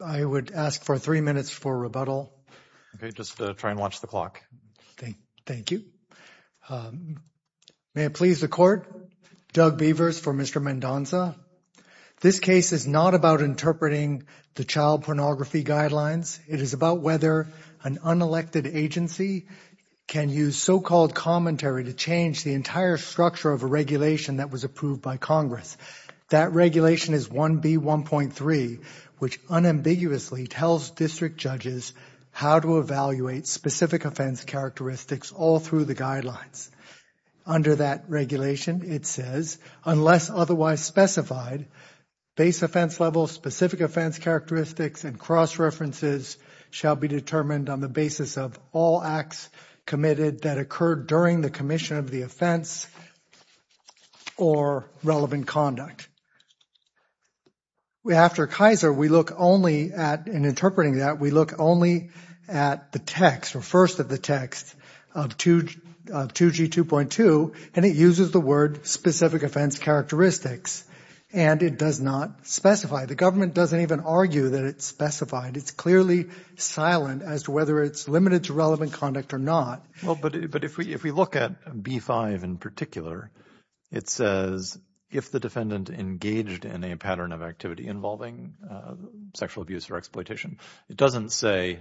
I would ask for three minutes for rebuttal. Okay, just try and watch the clock. Thank you. May it please the court, Doug Beavers for Mr. Mendonsa. This case is not about interpreting the child pornography guidelines. It is about whether an unelected agency can use so-called commentary to change the entire structure of a regulation that was approved by Congress. That regulation is 1B1.3, which unambiguously tells district judges how to evaluate specific offense characteristics all through the guidelines. Under that regulation, it says, unless otherwise specified, base offense level, specific offense characteristics, and cross-references shall be determined on the basis of all acts committed that occurred during the commission of the offense or relevant conduct. After Kaiser, we look only at, in interpreting that, we look only at the text or first of the text of 2G2.2, and it uses the word specific offense characteristics, and it does not specify. The government doesn't even argue that it's specified. It's clearly silent as to whether it's limited to relevant conduct or not. Well, but if we look at B5 in particular, it says, if the defendant engaged in a pattern of activity involving sexual abuse or exploitation, it doesn't say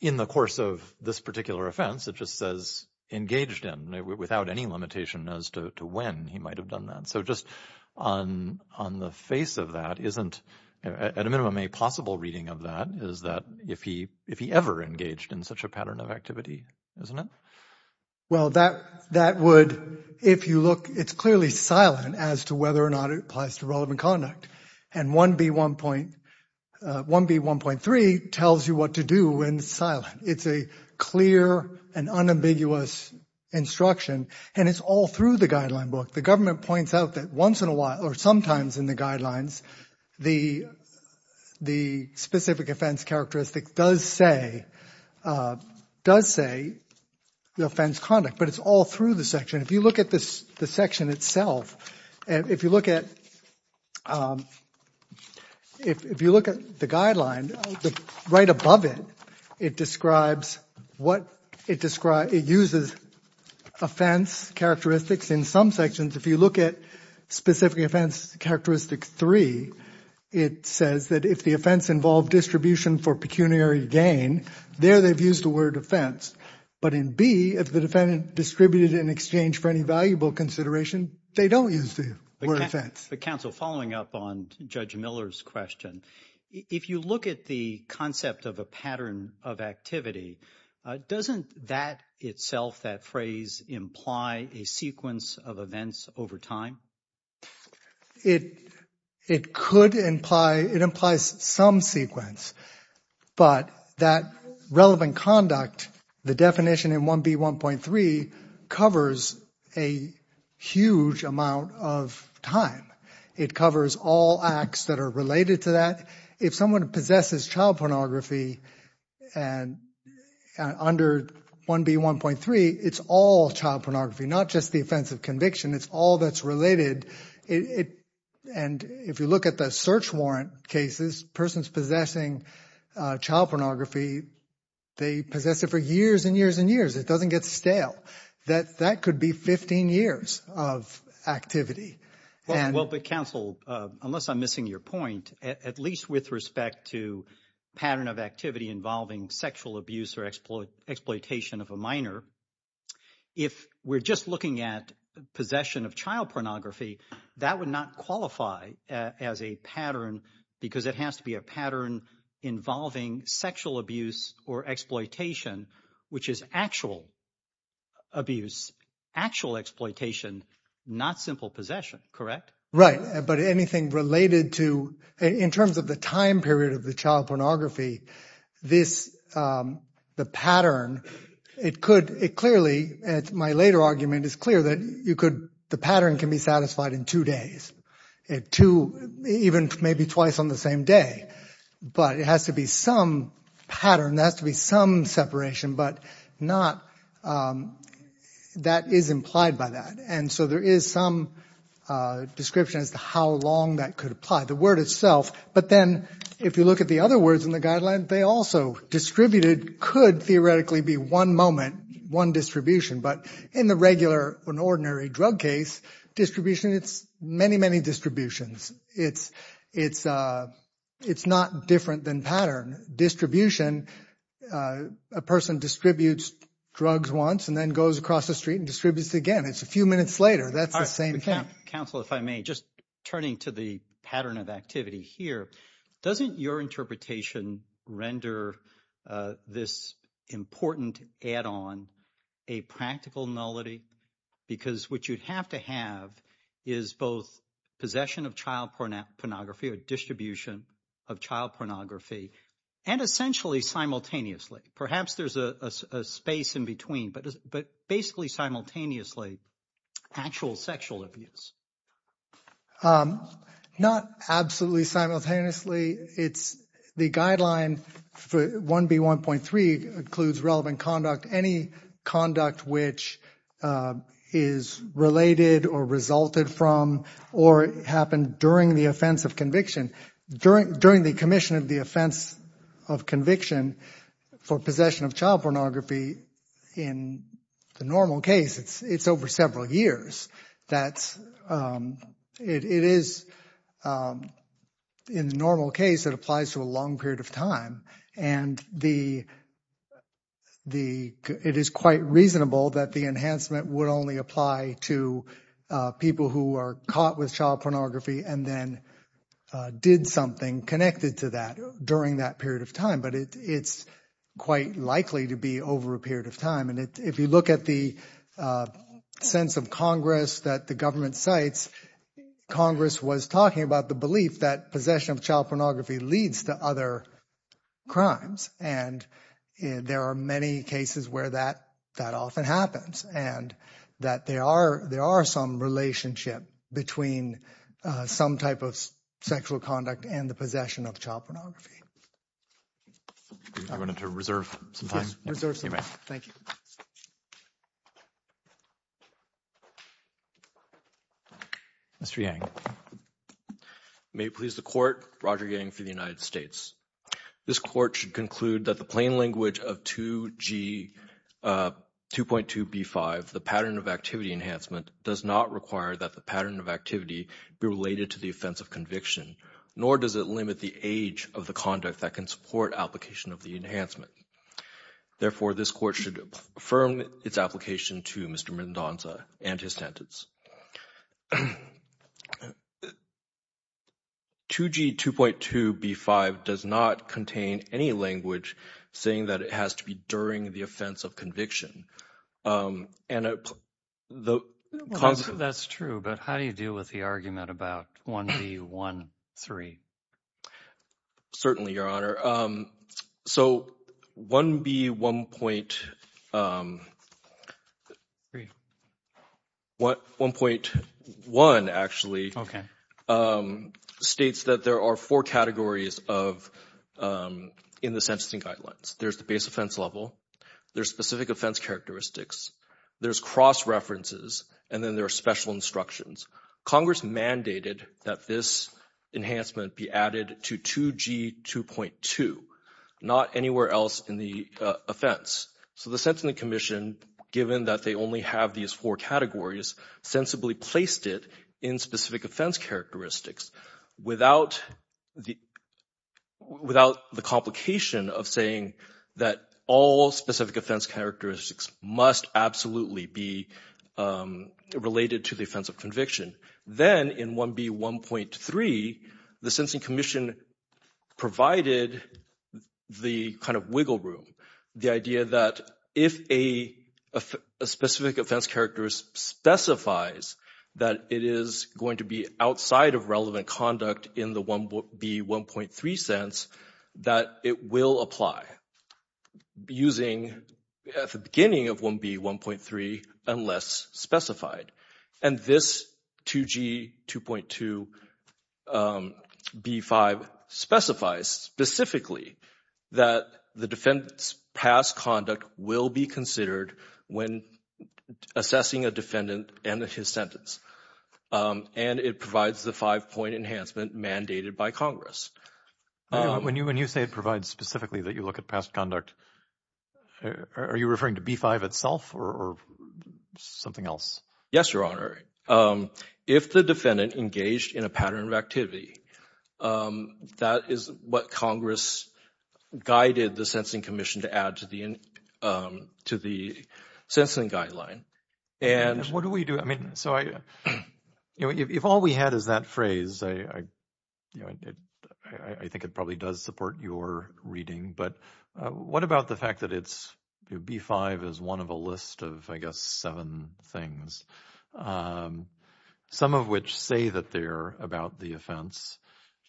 in the course of this particular offense. It just says engaged in, without any limitation as to when he might have done that. So just on the face of that, isn't, at a minimum, a possible reading of that, is that if he ever engaged in such a pattern of activity, isn't it? Well, that would, if you look, it's clearly silent as to whether or not it applies to relevant conduct, and 1B1.3 tells you what to do when it's silent. It's a clear and unambiguous instruction, and it's all through the guideline book. The government points out that once in a while, or sometimes in the guidelines, the specific offense characteristic does say the offense conduct, but it's all through the section. If you look at the section itself, if you look at the guideline, right above it, it describes what, it uses offense characteristics in some sections. If you look at specific offense characteristic 3, it says that if the offense involved distribution for pecuniary gain, there they've used the word offense. But in B, if the defendant distributed in exchange for any valuable consideration, they don't use the word offense. But counsel, following up on Judge Miller's question, if you look at the concept of a pattern of activity, doesn't that itself, that phrase imply a sequence of events over time? It could imply, it implies some sequence, but that relevant conduct, the definition in 1B1.3 covers a huge amount of time. It covers all acts that are related to that. If someone possesses child pornography under 1B1.3, it's all child pornography, not just the offense of conviction. It's all that's related, and if you look at the search warrant cases, persons possessing child pornography, they possess it for years and years and years. It doesn't get stale. That could be 15 years of activity. Well, but counsel, unless I'm missing your point, at least with respect to pattern of activity involving sexual abuse or exploitation of a minor, if we're just looking at possession of child pornography, that would not qualify as a pattern because it has to be a pattern involving sexual abuse or exploitation, which is actual abuse, actual exploitation, not simple possession, correct? Right, but anything related to, in terms of the time period of the child pornography, this, the pattern, it could, it clearly, my later argument is clear that you could, the pattern can be satisfied in two days, two, even maybe twice on the same day, but it has to be some pattern, it has to be some separation, but not, that is implied by that, and so there is some description as to how long that could apply, the word itself, but then if you look at the other words in the guideline, they also, distributed could theoretically be one moment, one distribution, but in the regular, an ordinary drug case distribution, it's many, many distributions. It's not different than pattern distribution. A person distributes drugs once and then goes across the street and distributes it again. It's a few minutes later. That's the same thing. Counsel, if I may, just turning to the pattern of activity here, doesn't your interpretation render this important add-on a practical nullity? Because what you'd have to have is both possession of child pornography or distribution of child pornography, and essentially simultaneously, perhaps there's a space in between, but basically simultaneously, actual sexual abuse. Not absolutely simultaneously. The guideline 1B1.3 includes relevant conduct, any conduct which is related or resulted from or happened during the offense of conviction. During the commission of the offense of conviction for possession of child pornography, in the normal case, it's over several years. It is, in the normal case, it applies to a long period of time, and it is quite reasonable that the enhancement would only apply to people who are caught with child pornography and then did something connected to that during that period of time, but it's quite likely to be over a period of time. If you look at the sense of Congress that the government cites, Congress was talking about the belief that possession of child pornography leads to other crimes, and there are many cases where that often happens and that there are some relationship between some type of sexual conduct and the possession of child pornography. I wanted to reserve some time. Reserve some time. Thank you. Mr. Yang. May it please the Court, Roger Yang for the United States. This Court should conclude that the plain language of 2G 2.2b5, the pattern of activity enhancement, does not require that the pattern of activity be related to the offense of conviction, nor does it limit the age of the conduct that can support application of the enhancement. Therefore, this Court should affirm its application to Mr. Mendonca and his sentence. 2G 2.2b5 does not contain any language saying that it has to be during the offense of conviction. That's true, but how do you deal with the argument about 1b1.3? Certainly, Your Honor. So 1b1.1 actually states that there are four categories in the sentencing guidelines. There's the base offense level, there's specific offense characteristics, there's cross references, and then there are special instructions. Congress mandated that this enhancement be added to 2G 2.2, not anywhere else in the offense. So the sentencing commission, given that they only have these four categories, sensibly placed it in specific offense characteristics without the complication of saying that all specific offense characteristics must absolutely be related to the offense of conviction. Then in 1b1.3, the sentencing commission provided the kind of wiggle room, the idea that if a specific offense characteristic specifies that it is going to be outside of relevant conduct in the 1b1.3 sense that it will apply using at the beginning of 1b1.3 unless specified. And this 2G 2.2b5 specifies specifically that the defendant's past conduct will be considered when assessing a defendant and his sentence. And it provides the five-point enhancement mandated by Congress. When you say it provides specifically that you look at past conduct, are you referring to B-5 itself or something else? Yes, Your Honor. If the defendant engaged in a pattern of activity, that is what Congress guided the sentencing commission to add to the sentencing guideline. What do we do? If all we had is that phrase, I think it probably does support your reading. But what about the fact that B-5 is one of a list of, I guess, seven things, some of which say that they're about the offense,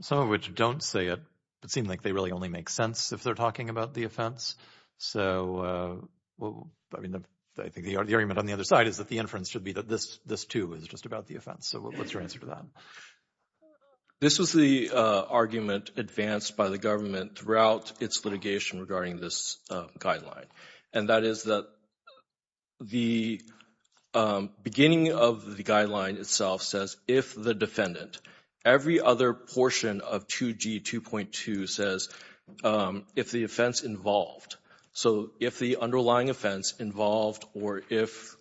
some of which don't say it but seem like they really only make sense if they're talking about the offense? So I think the argument on the other side is that the inference should be that this, too, is just about the offense. So what's your answer to that? This was the argument advanced by the government throughout its litigation regarding this guideline. And that is that the beginning of the guideline itself says if the defendant, every other portion of 2G 2.2 says if the offense involved. So if the underlying offense involved or if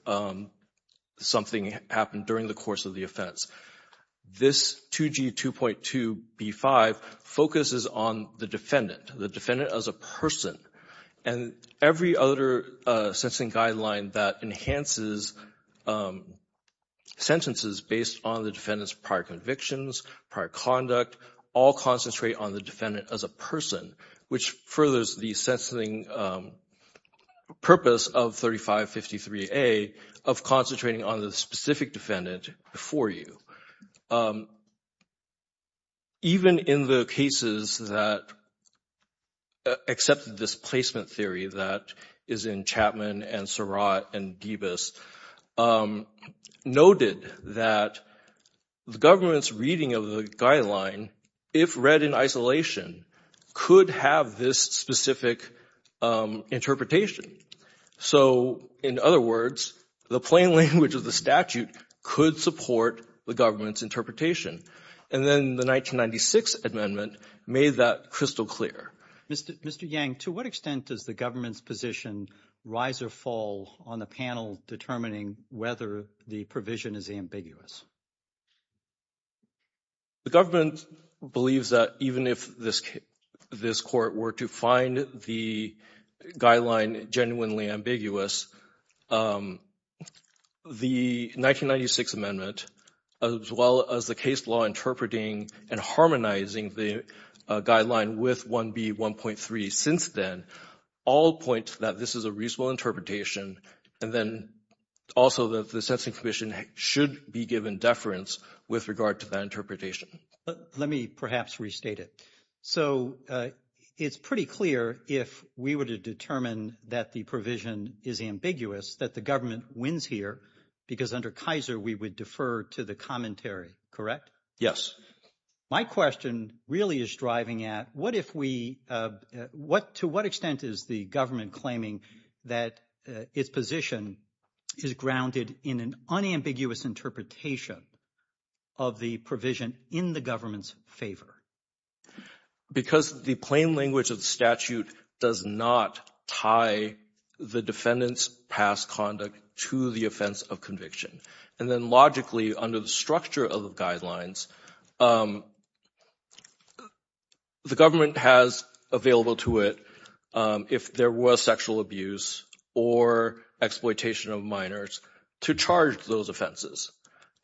something happened during the course of the offense. This 2G 2.2 B-5 focuses on the defendant, the defendant as a person. And every other sentencing guideline that enhances sentences based on the defendant's prior convictions, prior conduct, all concentrate on the defendant as a person, which furthers the sentencing purpose of 3553A of concentrating on the specific defendant before you. Even in the cases that accepted this placement theory that is in Chapman and Surratt and Debus, noted that the government's reading of the guideline, if read in isolation, could have this specific interpretation. So, in other words, the plain language of the statute could support the government's interpretation. And then the 1996 amendment made that crystal clear. Mr. Yang, to what extent does the government's position rise or fall on the panel determining whether the provision is ambiguous? The government believes that even if this court were to find the guideline genuinely ambiguous, the 1996 amendment, as well as the case law interpreting and harmonizing the guideline with 1B 1.3 since then, all point that this is a reasonable interpretation. And then also the sentencing commission should be given deference with regard to that interpretation. Let me perhaps restate it. So it's pretty clear if we were to determine that the provision is ambiguous, that the government wins here, because under Kaiser we would defer to the commentary, correct? Yes. My question really is driving at what if we – to what extent is the government claiming that its position is grounded in an unambiguous interpretation of the provision in the government's favor? Because the plain language of the statute does not tie the defendant's past conduct to the offense of conviction. And then logically under the structure of the guidelines, the government has available to it, if there was sexual abuse or exploitation of minors, to charge those offenses.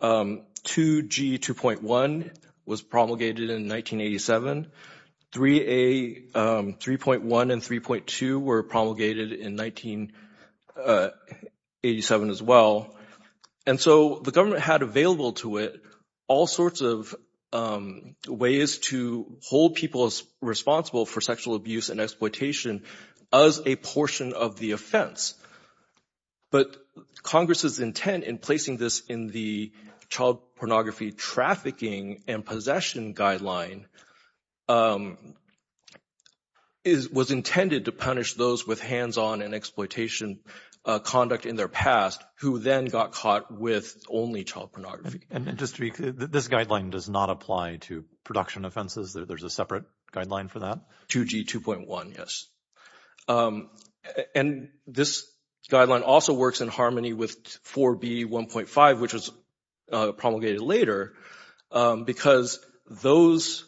2G 2.1 was promulgated in 1987. 3A 3.1 and 3.2 were promulgated in 1987 as well. And so the government had available to it all sorts of ways to hold people responsible for sexual abuse and exploitation as a portion of the offense. But Congress's intent in placing this in the Child Pornography Trafficking and Possession Guideline was intended to punish those with hands-on and exploitation conduct in their past who then got caught with only child pornography. And just to be clear, this guideline does not apply to production offenses? There's a separate guideline for that? 2G 2.1, yes. And this guideline also works in harmony with 4B 1.5, which was promulgated later, because 4B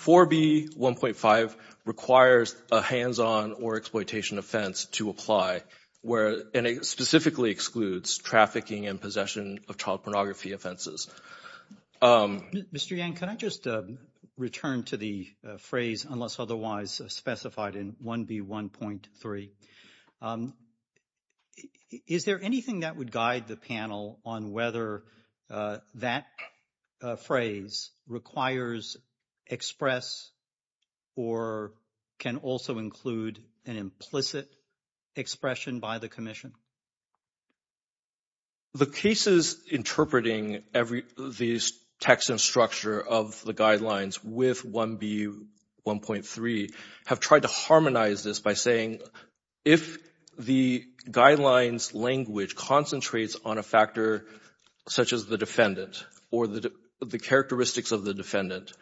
1.5 requires a hands-on or exploitation offense to apply, and it specifically excludes trafficking and possession of child pornography offenses. Mr. Yang, can I just return to the phrase, unless otherwise specified in 1B 1.3? Is there anything that would guide the panel on whether that phrase requires express or can also include an implicit expression by the commission? The cases interpreting these texts and structure of the guidelines with 1B 1.3 have tried to harmonize this by saying if the guidelines language concentrates on a factor such as the defendant or the characteristics of the defendant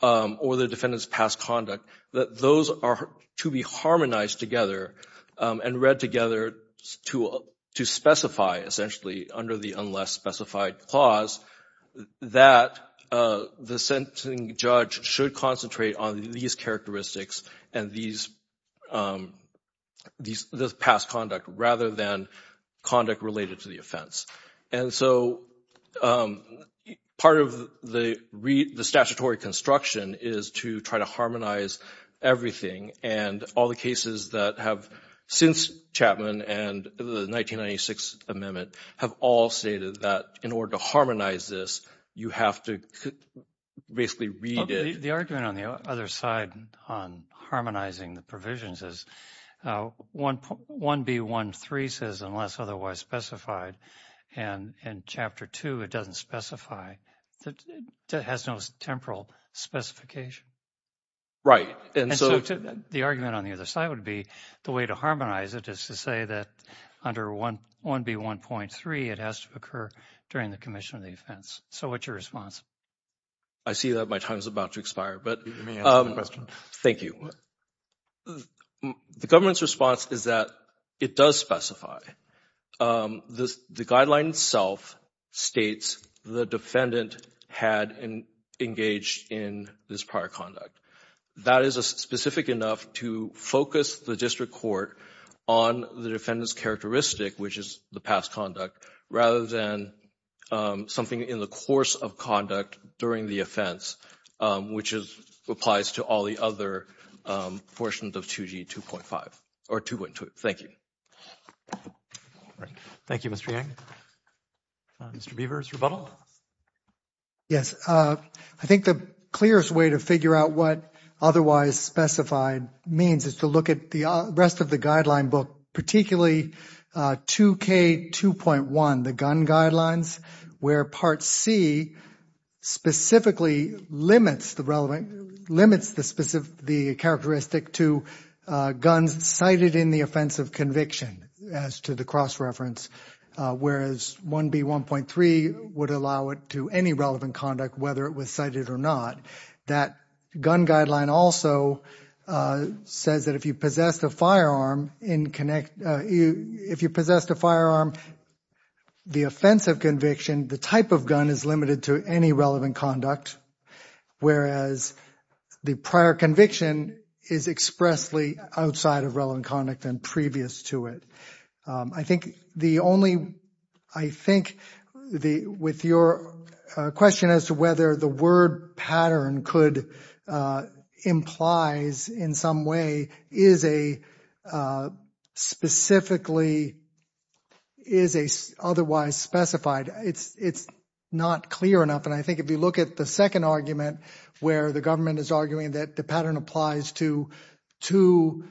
or the defendant's past conduct, that those are to be harmonized together and read together to specify, essentially, under the unless specified clause that the sentencing judge should concentrate on these characteristics and this past conduct rather than conduct related to the offense. And so part of the statutory construction is to try to harmonize everything, and all the cases that have since Chapman and the 1996 amendment have all stated that in order to harmonize this, you have to basically read it. The argument on the other side on harmonizing the provisions is 1B 1.3 says unless otherwise specified and in Chapter 2 it doesn't specify, it has no temporal specification. Right. And so the argument on the other side would be the way to harmonize it is to say that under 1B 1.3 it has to occur during the commission of the offense. So what's your response? I see that my time is about to expire, but thank you. The government's response is that it does specify. The guideline itself states the defendant had engaged in this prior conduct. That is specific enough to focus the district court on the defendant's characteristic, which is the past conduct, rather than something in the course of conduct during the offense, which applies to all the other portions of 2G 2.5 or 2.2. Thank you. Thank you, Mr. Yang. Mr. Beavers, rebuttal? Yes. I think the clearest way to figure out what otherwise specified means is to look at the rest of the guideline book, particularly 2K 2.1, the gun guidelines, where Part C specifically limits the characteristic to guns cited in the offense of conviction as to the cross-reference, whereas 1B 1.3 would allow it to any relevant conduct, whether it was cited or not. That gun guideline also says that if you possessed a firearm, the offense of conviction, the type of gun, is limited to any relevant conduct, whereas the prior conviction is expressly outside of relevant conduct and previous to it. I think the only – I think with your question as to whether the word pattern could – implies in some way, is a specifically – is otherwise specified. It's not clear enough, and I think if you look at the second argument, where the government is arguing that the pattern applies to two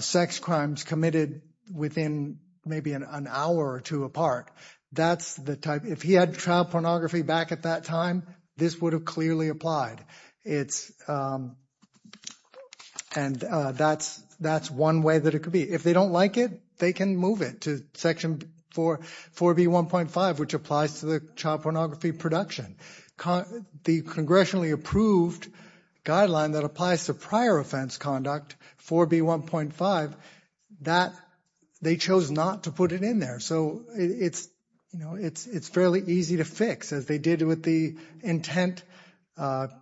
sex crimes committed within maybe an hour or two apart, that's the type – if he had child pornography back at that time, this would have clearly applied. It's – and that's one way that it could be. If they don't like it, they can move it to Section 4B 1.5, which applies to the child pornography production. The congressionally approved guideline that applies to prior offense conduct, 4B 1.5, that – they chose not to put it in there. So it's fairly easy to fix, as they did with the intent – the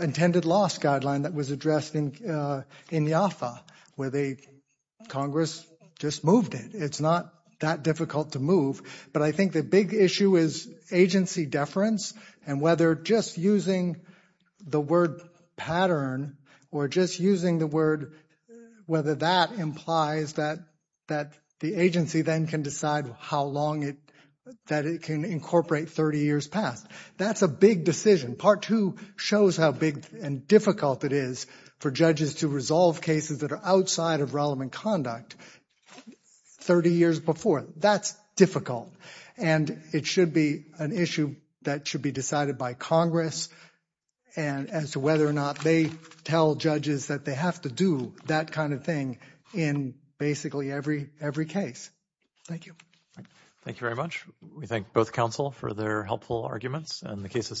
intended loss guideline that was addressed in IAFA, where they – Congress just moved it. It's not that difficult to move, but I think the big issue is agency deference and whether just using the word pattern or just using the word – whether that implies that the agency then can decide how long it – that it can incorporate 30 years past. That's a big decision. Part 2 shows how big and difficult it is for judges to resolve cases that are outside of relevant conduct. 30 years before, that's difficult, and it should be an issue that should be decided by Congress as to whether or not they tell judges that they have to do that kind of thing in basically every case. Thank you. Thank you very much. We thank both counsel for their helpful arguments, and the case is submitted.